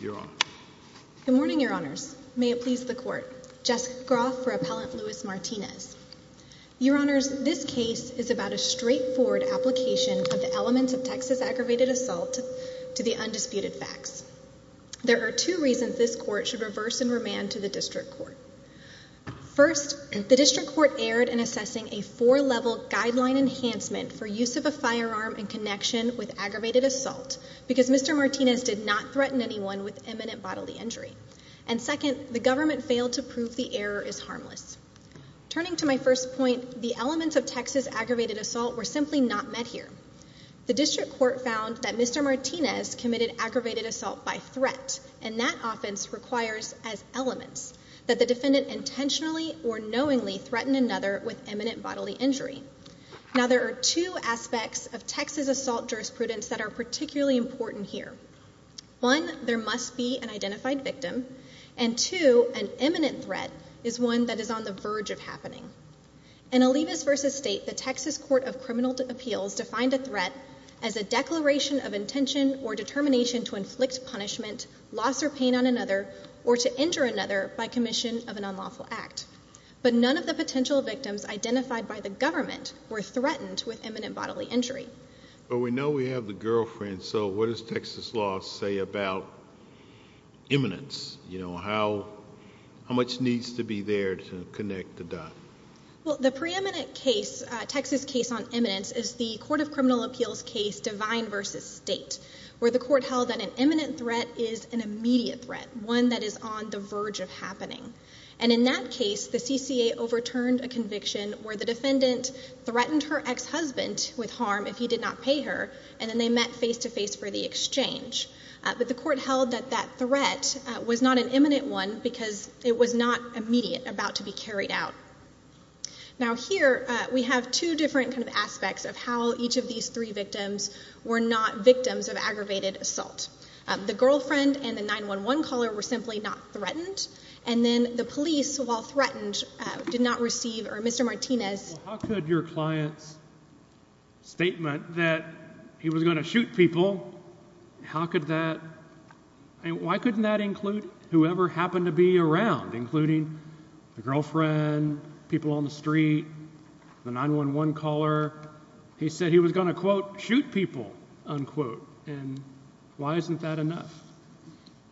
Your Honor. Good morning, Your Honors. May it please the Court. Jessica Groff for Appellant Luis Martinez. Your Honors, this case is about a straightforward application of the elements of Texas aggravated assault to the undisputed facts. There are two reasons this Court should reverse and remand to the District Court. First, the District Court erred in assessing a four-level guideline enhancement for use of a firearm in connection with aggravated assault, because Mr. Martinez did not threaten anyone with imminent bodily injury. And second, the government failed to prove the error is harmless. Turning to my first point, the elements of Texas aggravated assault were simply not met here. The District Court found that Mr. Martinez committed aggravated assault by threat, and that offense requires, as elements, that the defendant intentionally or knowingly threatened another with imminent bodily injury. Now, there are two aspects of Texas assault jurisprudence that are particularly important here. One, there must be an identified victim, and two, an imminent threat is one that is on the verge of happening. In Olivas v. State, the Texas Court of Criminal Appeals defined a threat as a declaration of intention or determination to inflict punishment, loss or pain on another, or to injure another by commission of an unlawful act. But none of the potential victims identified by the government were threatened with imminent bodily injury. But we know we have the girlfriend, so what does Texas law say about imminence? You know, how much needs to be there to connect the dot? Well, the preeminent case, Texas case on imminence, is the Court of Criminal Appeals case Divine v. State, where the court held that an imminent threat is an immediate threat, one that is on the verge of happening. And in that case, the CCA overturned a conviction where the defendant threatened her ex-husband with harm if he did not pay her, and then they met face to face for the exchange. But the court held that that threat was not an imminent one because it was not immediate, about to be carried out. Now here, we have two different kind of aspects of how each of these three victims were not threatened. And then the police, while threatened, did not receive, or Mr. Martinez... How could your client's statement that he was going to shoot people, how could that, why couldn't that include whoever happened to be around, including the girlfriend, people on the street, the 911 caller? He said he was going to, quote, shoot people, unquote. And why isn't that enough?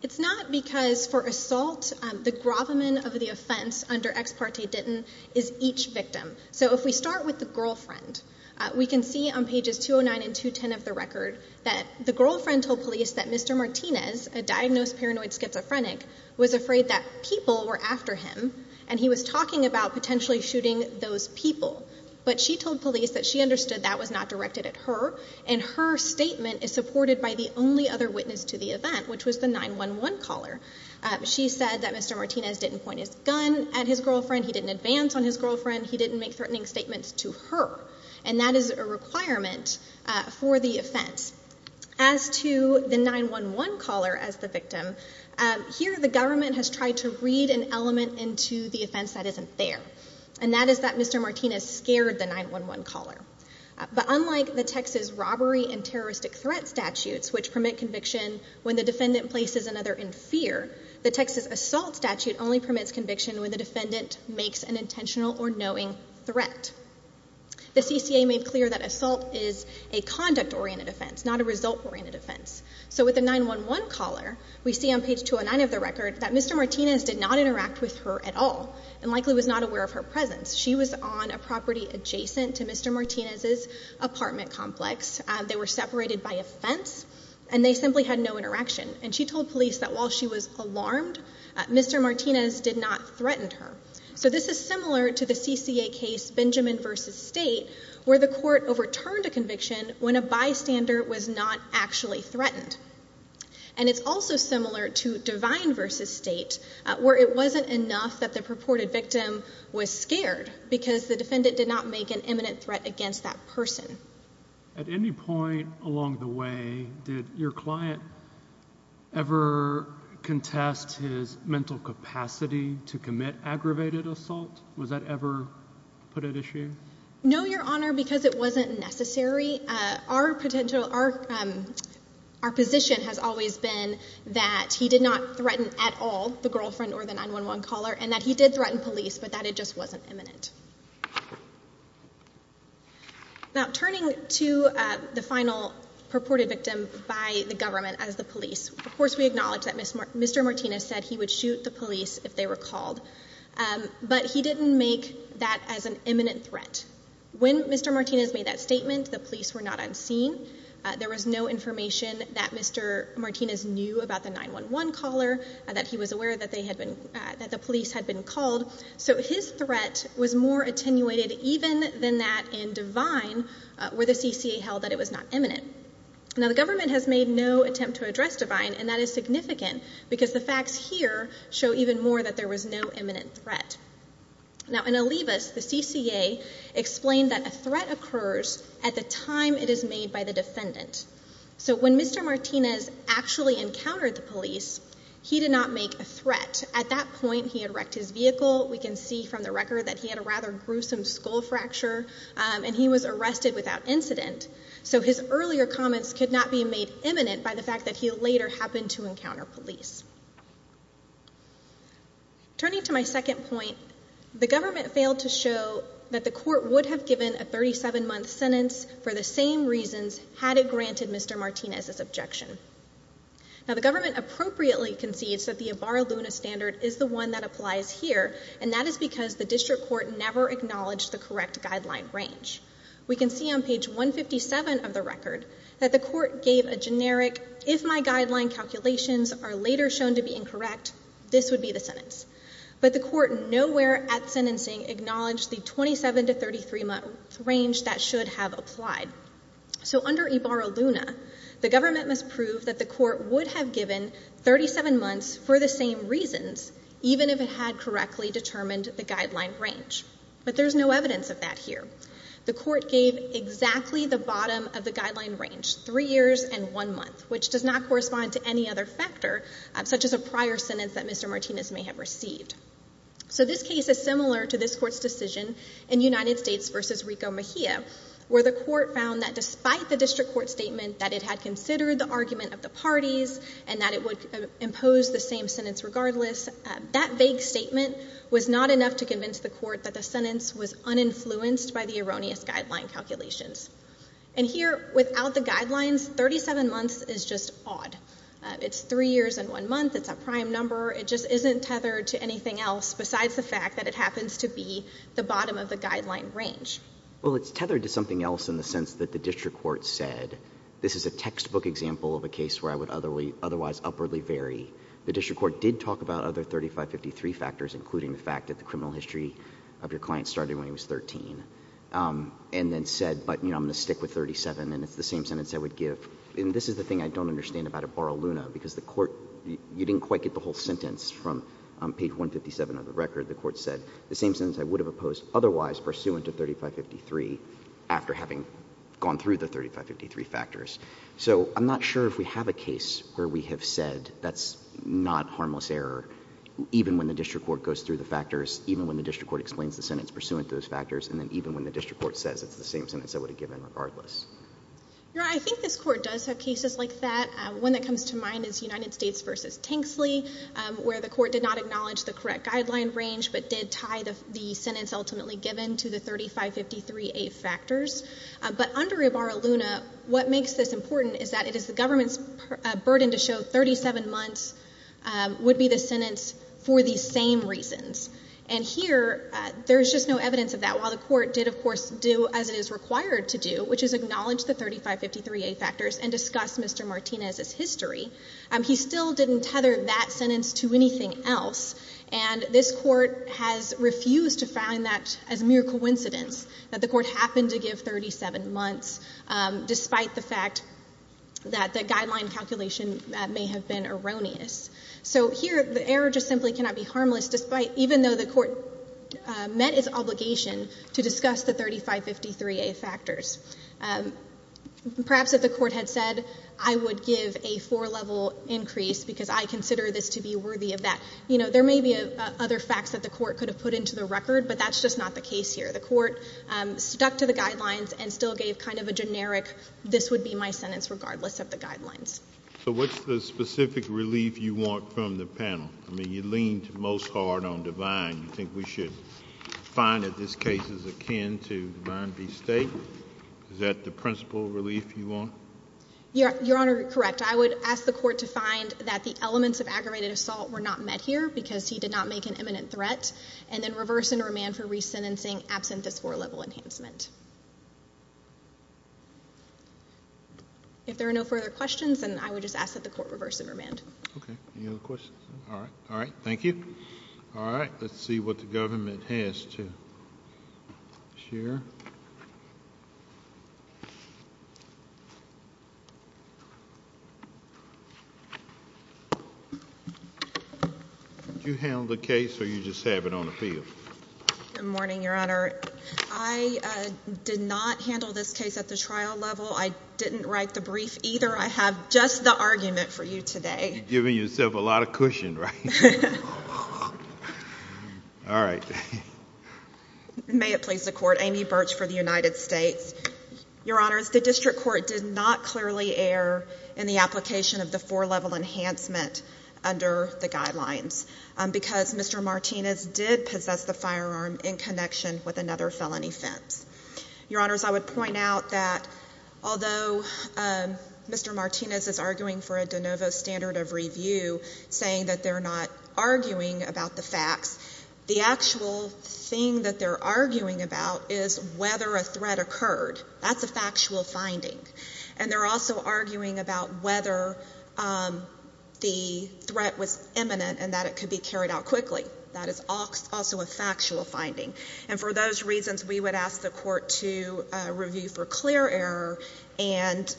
It's not because for assault, the gravamen of the offense under ex parte didn't, is each victim. So if we start with the girlfriend, we can see on pages 209 and 210 of the record that the girlfriend told police that Mr. Martinez, a diagnosed paranoid schizophrenic, was afraid that people were after him, and he was talking about potentially shooting those people. But she told police that she understood that was not directed at her, and her statement is the only other witness to the event, which was the 911 caller. She said that Mr. Martinez didn't point his gun at his girlfriend, he didn't advance on his girlfriend, he didn't make threatening statements to her. And that is a requirement for the offense. As to the 911 caller as the victim, here the government has tried to read an element into the offense that isn't there. And that is that Mr. Martinez scared the 911 caller. But when the defendant places another in fear, the Texas assault statute only permits conviction when the defendant makes an intentional or knowing threat. The CCA made clear that assault is a conduct-oriented offense, not a result-oriented offense. So with the 911 caller, we see on page 209 of the record that Mr. Martinez did not interact with her at all, and likely was not aware of her presence. She was on a property adjacent to Mr. Martinez's apartment complex. They were separated by a fence, and they simply had no interaction. And she told police that while she was alarmed, Mr. Martinez did not threaten her. So this is similar to the CCA case Benjamin v. State, where the court overturned a conviction when a bystander was not actually threatened. And it's also similar to Divine v. State, where it wasn't enough that the purported victim was scared, because the defendant did not make an imminent threat against that victim. At any point along the way, did your client ever contest his mental capacity to commit aggravated assault? Was that ever put at issue? No, Your Honor, because it wasn't necessary. Our position has always been that he did not threaten at all the girlfriend or the 911 caller, and that he did threaten police, but that it just wasn't imminent. Now, turning to the final purported victim by the government as the police, of course we acknowledge that Mr. Martinez said he would shoot the police if they were called. But he didn't make that as an imminent threat. When Mr. Martinez made that statement, the police were not unseen. There was no information that Mr. Martinez knew about the 911 caller, that he was aware that the police had been called. So his threat was more attenuated even than that in Divine, where the CCA held that it was not imminent. Now, the government has made no attempt to address Divine, and that is significant, because the facts here show even more that there was no imminent threat. Now, in Olivas, the CCA explained that a threat occurs at the time it is made by the defendant. So when Mr. Martinez actually encountered the police, he did not make a threat. At that point, he had wrecked his vehicle. We can see from the record that he had a rather gruesome skull fracture, and he was arrested without incident. So his earlier comments could not be made imminent by the fact that he later happened to encounter police. Turning to my second point, the government failed to show that the court would have given a 37-month sentence for the same reasons had it granted Mr. Martinez's objection. Now, the government appropriately concedes that the Ibarra-Luna standard is the one that applies here, and that is because the district court never acknowledged the correct guideline range. We can see on page 157 of the record that the court gave a generic, if my guideline calculations are later shown to be incorrect, this would be the sentence. But the court nowhere at sentencing acknowledged the 27- to 33-month range that should have applied. So under Ibarra-Luna, the government must prove that the court would have given 37 months for the same reasons, even if it had correctly determined the guideline range. But there's no evidence of that here. The court gave exactly the bottom of the guideline range, three years and one month, which does not correspond to any other factor, such as a prior sentence that Mr. Martinez may have received. So this case is from Mejia, where the court found that despite the district court statement that it had considered the argument of the parties and that it would impose the same sentence regardless, that vague statement was not enough to convince the court that the sentence was uninfluenced by the erroneous guideline calculations. And here, without the guidelines, 37 months is just odd. It's three years and one month. It's a prime number. It just isn't tethered to anything else besides the fact that it happens to be the bottom of the guideline range. Well, it's tethered to something else in the sense that the district court said, this is a textbook example of a case where I would otherwise upwardly vary. The district court did talk about other 3553 factors, including the fact that the criminal history of your client started when he was 13, and then said, but I'm going to stick with 37, and it's the same sentence I would give. And this is the thing I don't understand about Ibarra-Luna, because the court, you didn't quite get the whole sentence from page 157 of the record. The court said, the same sentence I would have opposed otherwise pursuant to 3553 after having gone through the 3553 factors. So I'm not sure if we have a case where we have said that's not harmless error, even when the district court goes through the factors, even when the district court explains the sentence pursuant to those factors, and then even when the district court says it's the same sentence I would have given regardless. Your Honor, I think this court does have cases like that. One that comes to mind is United States, which did acknowledge the correct guideline range, but did tie the sentence ultimately given to the 3553A factors. But under Ibarra-Luna, what makes this important is that it is the government's burden to show 37 months would be the sentence for these same reasons. And here, there's just no evidence of that. While the court did, of course, do as it is required to do, which is acknowledge the 3553A factors and discuss Mr. Martinez's sentence, and this court has refused to find that as mere coincidence, that the court happened to give 37 months, despite the fact that the guideline calculation may have been erroneous. So here, the error just simply cannot be harmless, despite, even though the court met its obligation to discuss the 3553A factors. Perhaps if the court had said, I would give a four-level increase because I consider this to be worthy of that. You know, there may be other facts that the court could have put into the record, but that's just not the case here. The court stuck to the guidelines and still gave kind of a generic, this would be my sentence regardless of the guidelines. So what's the specific relief you want from the panel? I mean, you leaned most hard on divine. You think we should find that this case is akin to divine bestate? Is that the principal relief you want? Your Honor, correct. I would ask the court to find that the elements of aggravated assault were not met here because he did not make an imminent threat, and then reverse and remand for resentencing absent this four-level enhancement. If there are no further questions, then I would just ask that the court reverse and remand. Okay. Any other questions? All right. All right. Thank you. All right. Let's see what the government has to share. Did you handle the case, or you just have it on the field? Good morning, Your Honor. I did not handle this case at the trial level. I didn't write the brief either. I have just the argument for you today. You're giving yourself a lot of cushion, right? All right. May it please the court. Amy Birch for the United States. Your Honors, the district court did not clearly err in the application of the four-level enhancement under the guidelines because Mr. Martinez did possess the firearm in connection with another felony offense. Your Honors, I would point out that although Mr. Martinez is arguing for a de novo standard of review, saying that they're not arguing about the facts, the actual thing that they're arguing about is whether a threat occurred. That's a factual finding. And they're also arguing about whether the threat was imminent and that it could be carried out quickly. That is also a factual finding. And for those reasons, we would ask the court to review for clear error and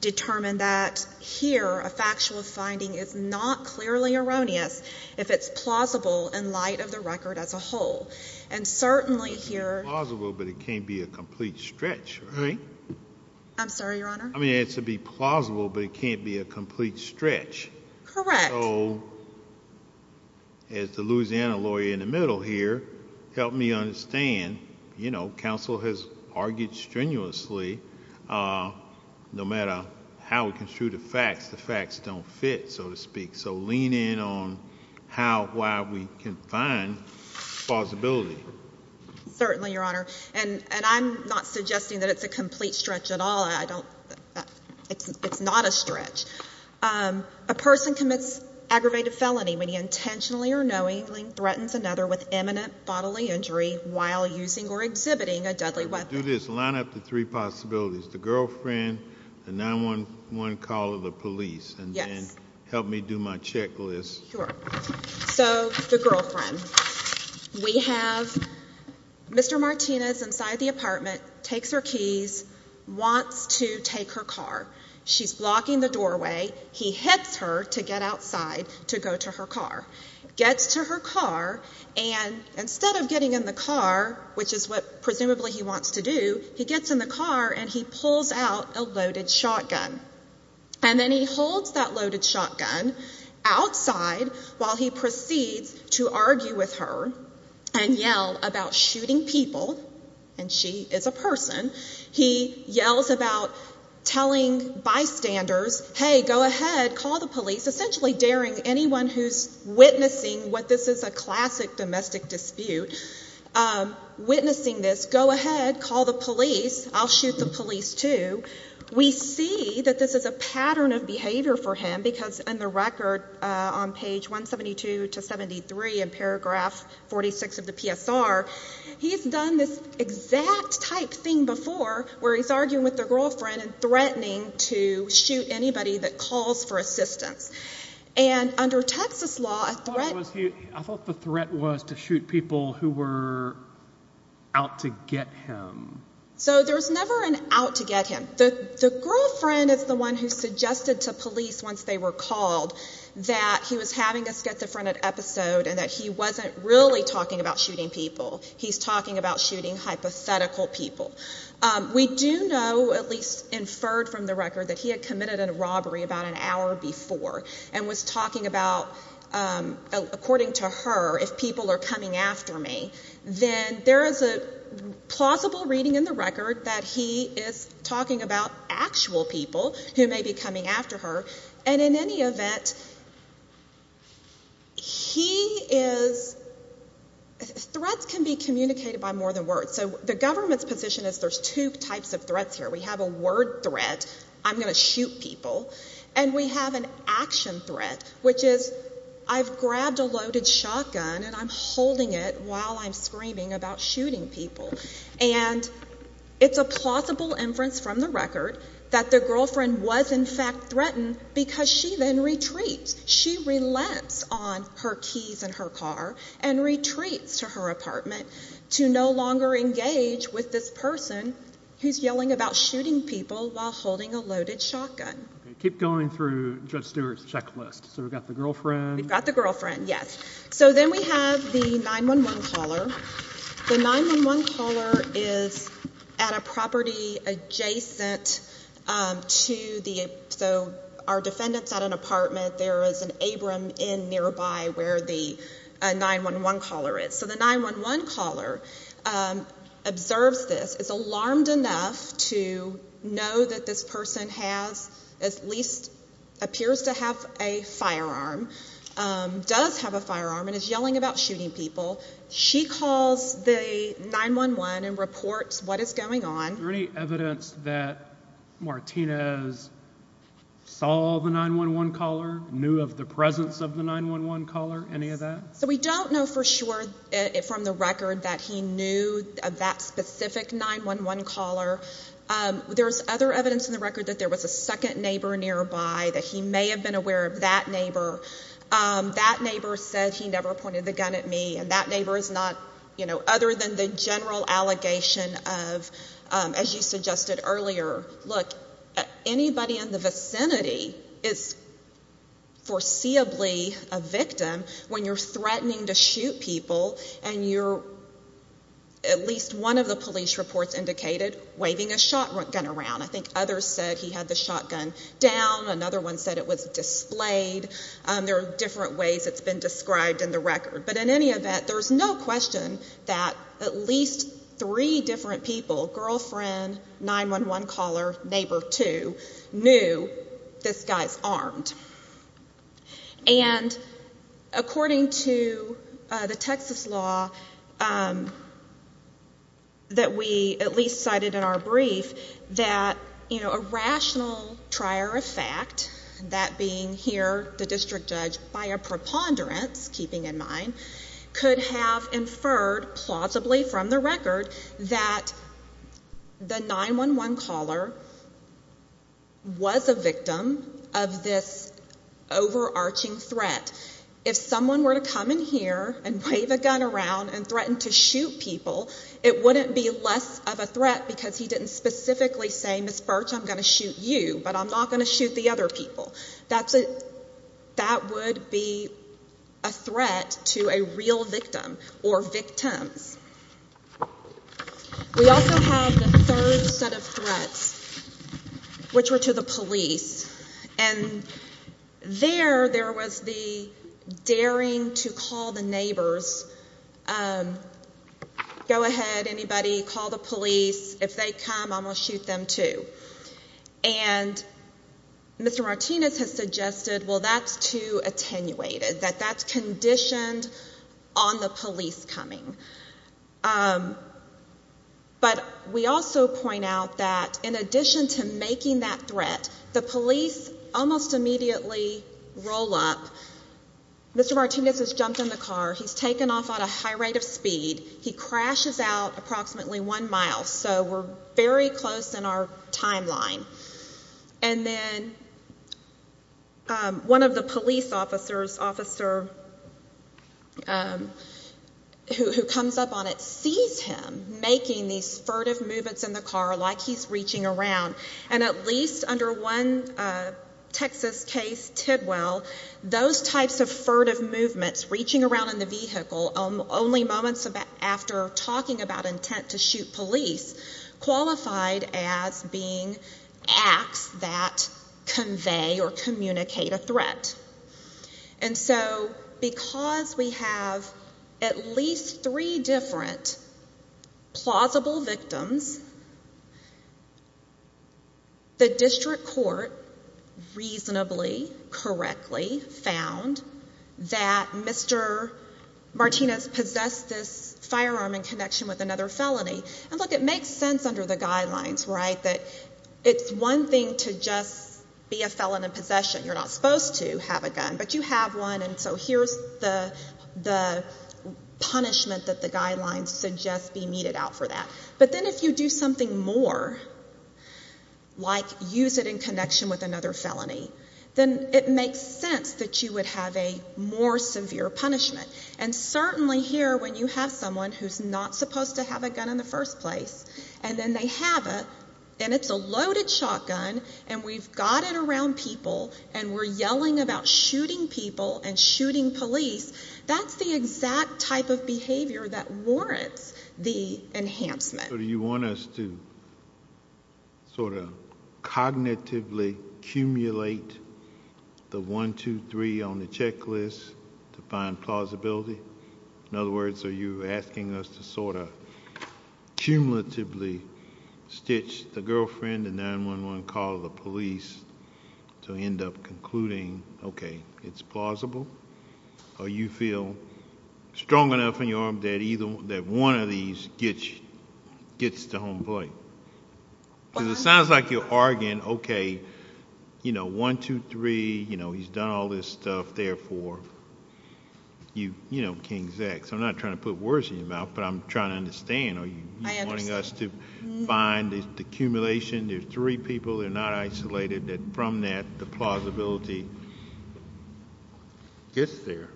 determine that here, a factual finding is not clearly erroneous if it's plausible in light of the record as a whole. And certainly here... It's plausible, but it can't be a complete stretch, right? I'm sorry, Your Honor? I mean, it's to be plausible, but it can't be a complete stretch. Correct. So, as the Louisiana lawyer in the middle here, help me understand. You know, counsel has argued strenuously, no matter how we construe the facts, the facts don't fit, so to speak. So lean in on how, why we can find plausibility. Certainly, Your Honor. And I'm not suggesting that it's a complete stretch at all. I don't... It's not a stretch. A person commits aggravated felony when he intentionally or knowingly threatens another with imminent bodily injury while using or exhibiting a deadly weapon. Do this. Line up the three possibilities. The girlfriend, the 911 call of the police. Yes. And then help me do my checklist. Sure. So, the girlfriend. We have Mr. Martinez inside the apartment, takes her keys, wants to take her car. She's blocking the doorway. He hits her to get outside to go to her car. Gets to her car, and instead of getting in the car, which is what presumably he wants to do, he gets in the car and he pulls out a loaded shotgun. And then he holds that loaded shotgun outside while he proceeds to argue with her and yell about shooting people. And she is a person. He yells about telling bystanders, hey, go ahead, call the police. Essentially daring anyone who's witnessing what this is a classic domestic dispute, witnessing this, go ahead, call the police. I'll shoot the police too. We see that this is a pattern of behavior for him because in the record on page 172 to 73 in paragraph 46 of the PSR, he's done this exact type thing before where he's arguing with the girlfriend and threatening to shoot anybody that calls for assistance. And under Texas law, a threat... I thought the threat was to shoot people who were out to get him. So there's never an out to get him. The girlfriend is the one who suggested to police once they were called that he was having a schizophrenic episode and that he wasn't really talking about shooting people. He's talking about shooting hypothetical people. We do know, at least inferred from the record, that he had committed a robbery about an hour before and was talking about, according to her, if people are coming after me, then there is a plausible reading in the record that he is talking about actual people who may be coming after her. And in any event, he is... Threats can be communicated by more than words. So the government's position is there's two types of threats here. We have a word threat, I'm going to shoot people, and we have an action threat, which is I've grabbed a loaded shotgun and I'm holding it while I'm screaming about shooting people. And it's a plausible inference from the record that the girlfriend was in fact threatened because she then retreats. She relents on her keys and her car and retreats to her apartment to no longer engage with this person who's yelling about shooting people while holding a loaded shotgun. Keep going through Judge Stewart's checklist. So we've got the girlfriend. We've got the girlfriend, yes. So then we have the 911 caller. The 911 caller is at a property adjacent to the... So our defendant's at an apartment. There is an Abram Inn nearby where the 911 caller is. So the 911 caller observes this, is alarmed enough to know that this person has, at least appears to have a firearm, does have a firearm and is yelling about shooting people. She calls the 911 and reports what is going on. Is there any evidence that Martinez saw the 911 caller, knew of the presence of the 911 caller, any of that? So we don't know for sure from the record that he knew of that specific 911 caller. There's other evidence in the record that there was a second neighbor nearby, that he may have been aware of that neighbor. That neighbor said he never pointed the gun at me and that neighbor is not... Other than the general allegation of, as you suggested earlier, look, anybody in the vicinity is foreseeably a victim. When you're threatening to shoot people and you're... At least one of the police reports indicated waving a shotgun around. I think others said he had the shotgun down. Another one said it was displayed. There are different ways it's been described in the record. But in any event, there's no question that at least three different people, girlfriend, 911 caller, neighbor two, knew this guy's armed. According to the Texas law that we at least cited in our brief, that a rational trier of fact, that being here the district judge, by a preponderance keeping in mind, could have inferred plausibly from the record that the 911 caller was a victim of this overarching threat. If someone were to come in here and wave a gun around and threaten to shoot people, it wouldn't be less of a threat because he didn't specifically say, Ms. Birch, I'm going to shoot you, but I'm not going to shoot the other people. That would be a threat to a real victim or victims. We also have the third set of threats, which were to the police. And there, there was a the daring to call the neighbors, go ahead, anybody, call the police. If they come, I'm going to shoot them, too. And Mr. Martinez has suggested, well, that's too attenuated, that that's conditioned on the police coming. But we also point out that in addition to that, Mr. Martinez has jumped in the car, he's taken off at a high rate of speed, he crashes out approximately one mile. So we're very close in our timeline. And then one of the police officers, officer who comes up on it, sees him making these furtive movements in the car like he's reaching around. And at least under one Texas case, Tidwell, those types of furtive movements, reaching around in the vehicle only moments after talking about intent to shoot police, qualified as being acts that convey or communicate a threat. And so because we have at least three different plausible victims, the district court reasonably, correctly found that Mr. Martinez possessed this firearm in connection with another felony. And look, it makes sense under the guidelines, right, that it's one thing to just be a felon in possession. You're not supposed to have a gun. But you have one, and so here's the punishment that the guidelines suggest be meted out for that. But then if you do something more, like use it in connection with another felony, then it makes sense that you would have a more severe punishment. And certainly here, when you have someone who's not supposed to have a gun in the first place, and then they have it, and it's a loaded shotgun, and we've got it around people, and we're yelling about shooting people and shooting police, that's the exact type of behavior that warrants the enhancement. So do you want us to sort of cognitively accumulate the 1, 2, 3 on the checklist to find plausibility? In other words, are you asking us to sort of cumulatively stitch the girlfriend, the 9-1-1 call to the police to end up concluding, okay, it's plausible? Or you feel strong enough in your arm that one of these gets to home plate? Because it sounds like you're arguing, okay, 1, 2, 3, he's done all this stuff, therefore, King's X. I'm not trying to put words in your mouth, but I'm trying to understand. Are you wanting us to find the accumulation, there's three people, they're not isolated, that from that, the plausibility gets there?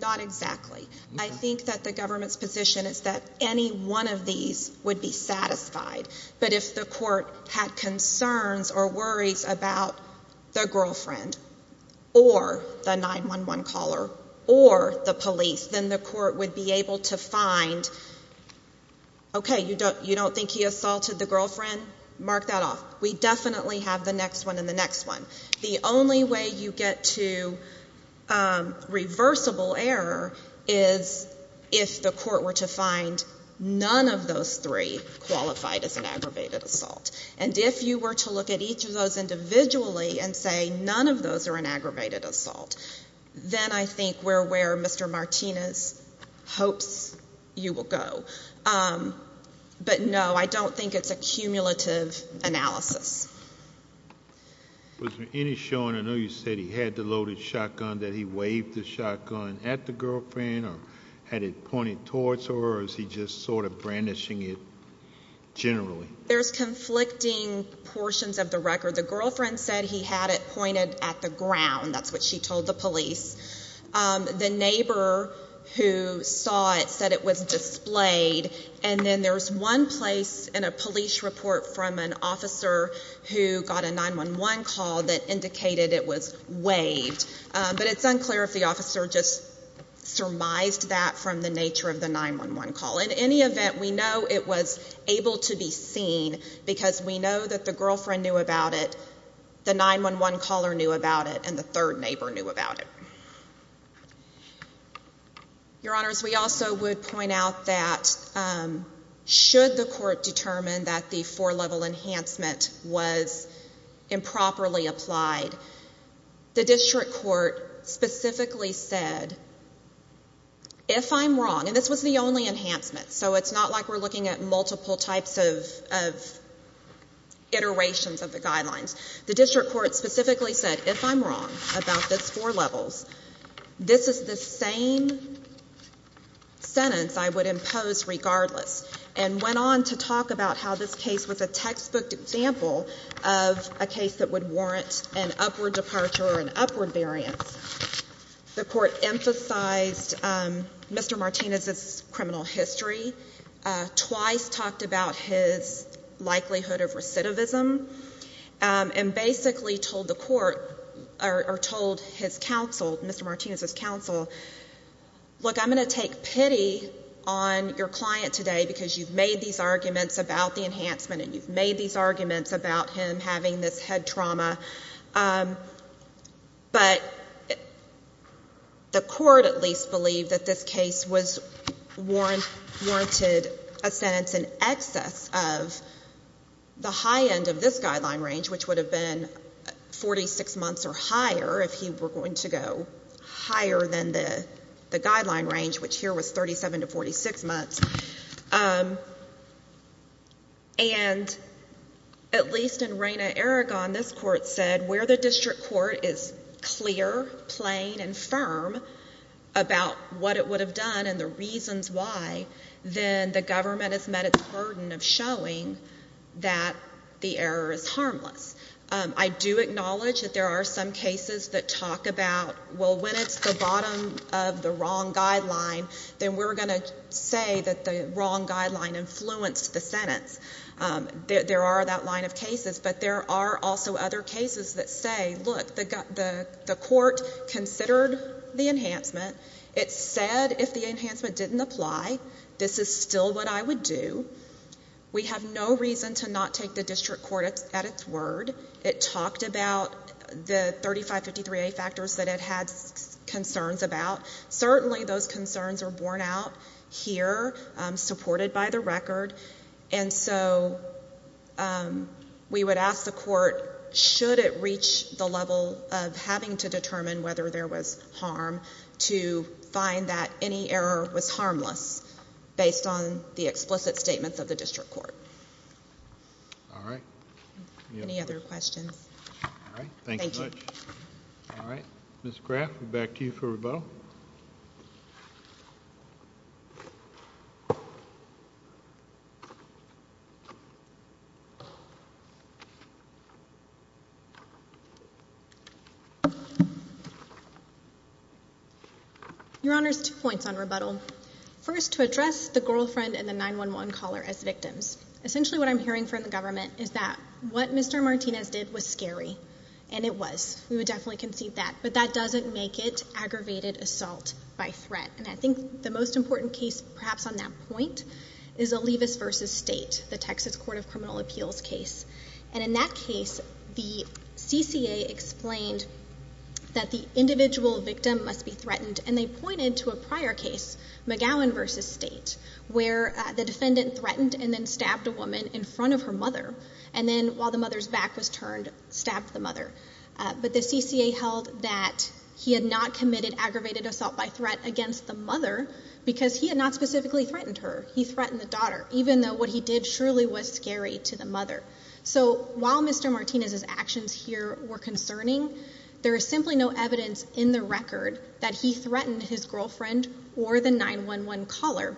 Not exactly. I think that the government's position is that any one of these would be satisfied, but if the court had concerns or worries about the girlfriend or the 9-1-1 caller or the police, then the court would be able to find, okay, you don't think he assaulted the girlfriend? Mark that off. We definitely have the next one and the next one. The only way you get to reversible error is if the court were to find none of those three qualified as an aggravated assault. And if you were to look at each of those individually and say none of those are an aggravated assault, then I think we're where Mr. Martinez hopes you will go. But, no, I don't think it's a cumulative analysis. Was there any showing, I know you said he had the loaded shotgun, that he waved the shotgun at the girlfriend or had it pointed towards her or is he just sort of brandishing it generally? There's conflicting portions of the record. The girlfriend said he had it pointed at the ground, that's what she told the police. The neighbor who saw it said it was displayed and then there's one place in a police report from an officer who got a 9-1-1 call that indicated it was waved. But it's unclear if the officer just surmised that from the nature of the 9-1-1 call. In any event, we know it was able to be seen because we know that the girlfriend knew about it, the 9-1-1 caller knew about it and the third neighbor knew about it. Your Honors, we also would point out that should the court determine that the four-level enhancement was improperly applied, the district court specifically said, if I'm wrong, and this was the only enhancement, so it's not like we're looking at multiple types of iterations of the guidelines, the district court specifically said, if I'm wrong about this four-levels, this is the same sentence I would impose regardless and went on to talk about how this case was a textbook example of a case that would warrant an upward departure or an upward variance. The court emphasized Mr. Martinez's criminal history, twice talked about his likelihood of recidivism and basically told the court or told his counsel, Mr. Martinez's counsel, look, I'm going to take pity on your client today because you've made these arguments about the enhancement and you've made these arguments about him having this head trauma, but the court at least believed that this case was warranted a sentence in the high end of this guideline range, which would have been 46 months or higher if he were going to go higher than the guideline range, which here was 37 to 46 months, and at least in Rayna Aragon, this court said where the district court is clear, plain and firm about what it would have done and the reasons why, then the government has met its burden of showing that the error is harmless. I do acknowledge that there are some cases that talk about, well, when it's the bottom of the wrong guideline, then we're going to say that the wrong guideline influenced the sentence. There are that line of cases, but there are also other cases that say, look, the court considered the enhancement, it said if the enhancement didn't apply, this is still what I would do. We have no reason to not take the district court at its word. It talked about the 3553A factors that it had concerns about. Certainly those concerns are borne out here, supported by the record, and so we would ask the court, should it reach the level of having to find that any error was harmless, based on the explicit statements of the district court. All right. Any other questions? All right. Thank you. Thank you. All right. Ms. Graff, back to you for rebuttal. Your Honor's two points on rebuttal. First, to address the girlfriend and the 911 caller as victims. Essentially what I'm hearing from the government is that what Mr. Martinez did was scary, and it was. We would definitely concede that, but that doesn't make it aggravated assault by threat. And I think the most important case, perhaps on that point, is Olivas v. State, the Texas Court of Criminal Appeals case. And in that case, the CCA explained that the individual victim must be threatened, and they pointed to a prior case, McGowan v. State, where the defendant threatened and then stabbed a woman in front of her mother, and then while the mother's back was turned, stabbed the mother. But the CCA held that he had not committed aggravated assault by threat against the mother, because he had not specifically threatened her. He threatened the daughter, even though what he did surely was scary to the mother. So while Mr. Martinez's actions here were concerning, there is simply no evidence in the record that he threatened his girlfriend or the 911 caller.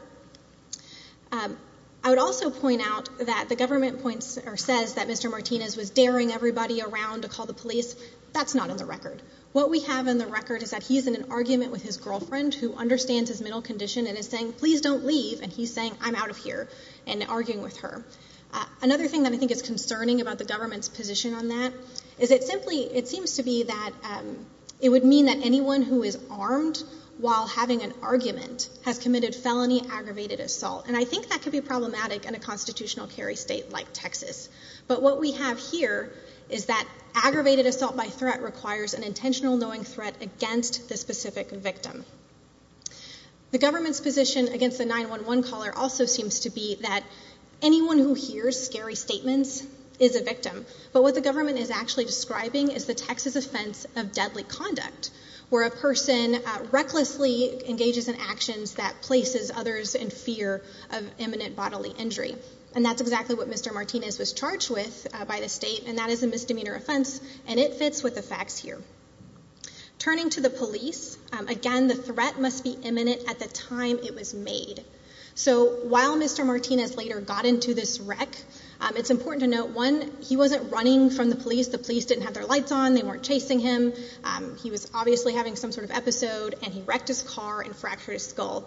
I would also point out that the government points or says that Mr. Martinez was daring everybody around to call the police. That's not in the record. What we have in the record is that he's in an argument with his girlfriend, who understands his mental condition, and is saying, please don't leave, and he's saying, I'm out of here, and arguing with her. Another thing that I think is concerning about the government's position on that is it simply, it seems to be that it would mean that anyone who is armed while having an argument has committed felony aggravated assault. And I think that could be problematic in a constitutional carry state like Texas. But what we have here is that aggravated assault by threat requires an intentional knowing threat against the specific victim. The government's position against the 911 caller also seems to be that anyone who hears scary statements is a victim. But what the government is actually describing is the Texas offense of deadly bodily injury. And that's exactly what Mr. Martinez was charged with by the state, and that is a misdemeanor offense, and it fits with the facts here. Turning to the police, again, the threat must be imminent at the time it was made. So while Mr. Martinez later got into this wreck, it's important to note, one, he wasn't running from the police. The police didn't have their lights on. They weren't chasing him. He was obviously having some sort of episode, and he wrecked his car and fractured his skull.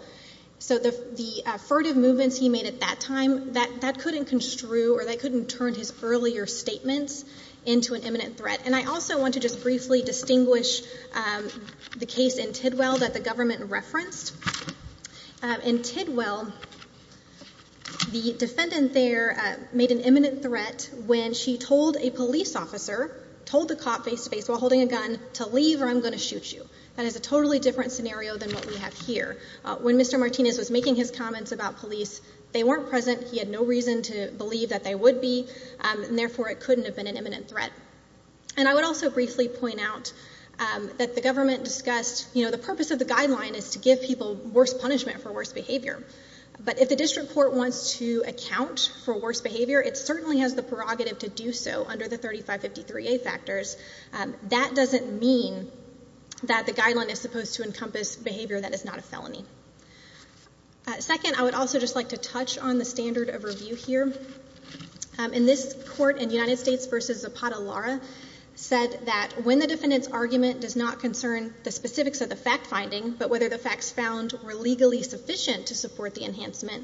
So the furtive movements he made at that time, that couldn't construe or that couldn't turn his earlier statements into an imminent threat. And I also want to just briefly distinguish the case in Tidwell that the government referenced. In Tidwell, the defendant there made an imminent threat when she told a police officer, told the cop face-to-face while holding a gun, to leave or I'm going to shoot you. That is a totally different scenario than what we have here. When Mr. Martinez was making his comments about police, they weren't present. He had no reason to believe that they would be, and therefore it couldn't have been an imminent threat. And I would also briefly point out that the government discussed, you know, the purpose of the guideline is to give people worse punishment for worse behavior. But if the district court wants to account for worse behavior, it certainly has the prerogative to do so under the 3553A factors. That doesn't mean that the guideline is supposed to encompass behavior that is not a felony. Second, I would also just like to touch on the standard of review here. In this court, in United States v. Zapata-Lara, said that when the defendant's argument does not concern the specifics of the fact finding, but whether the facts found were legally sufficient to support the position of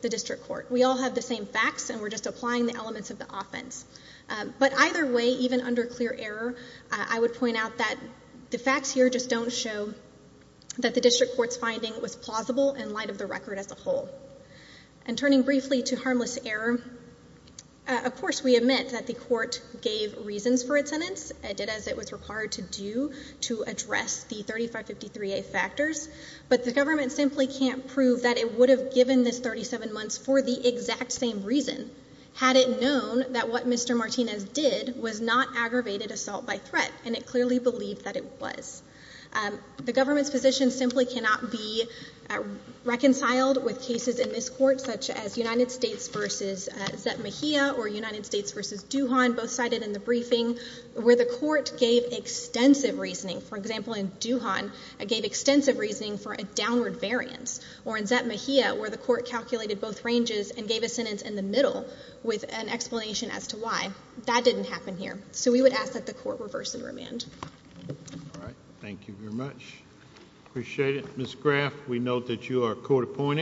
the district court. We all have the same facts and we're just applying the elements of the offense. But either way, even under clear error, I would point out that the facts here just don't show that the district court's finding was plausible in light of the record as a whole. And turning briefly to harmless error, of course we admit that the court gave reasons for its sentence. It did as it was required to do to address the 3553A factors. But the government simply can't prove that it would have given this 37 months for the exact same reason, had it known that what Mr. Martinez did was not aggravated assault by threat, and it clearly believed that it was. The government's position simply cannot be reconciled with cases in this court such as United States v. Zep Mejia or United States v. Dujan, both cited in the briefing, where the court gave extensive reasoning. For instance, or in Zep Mejia, where the court calculated both ranges and gave a sentence in the middle with an explanation as to why. That didn't happen here. So we would ask that the court reverse and remand. All right. Thank you very much. Appreciate it. Ms. Graff, we note that you are court appointed.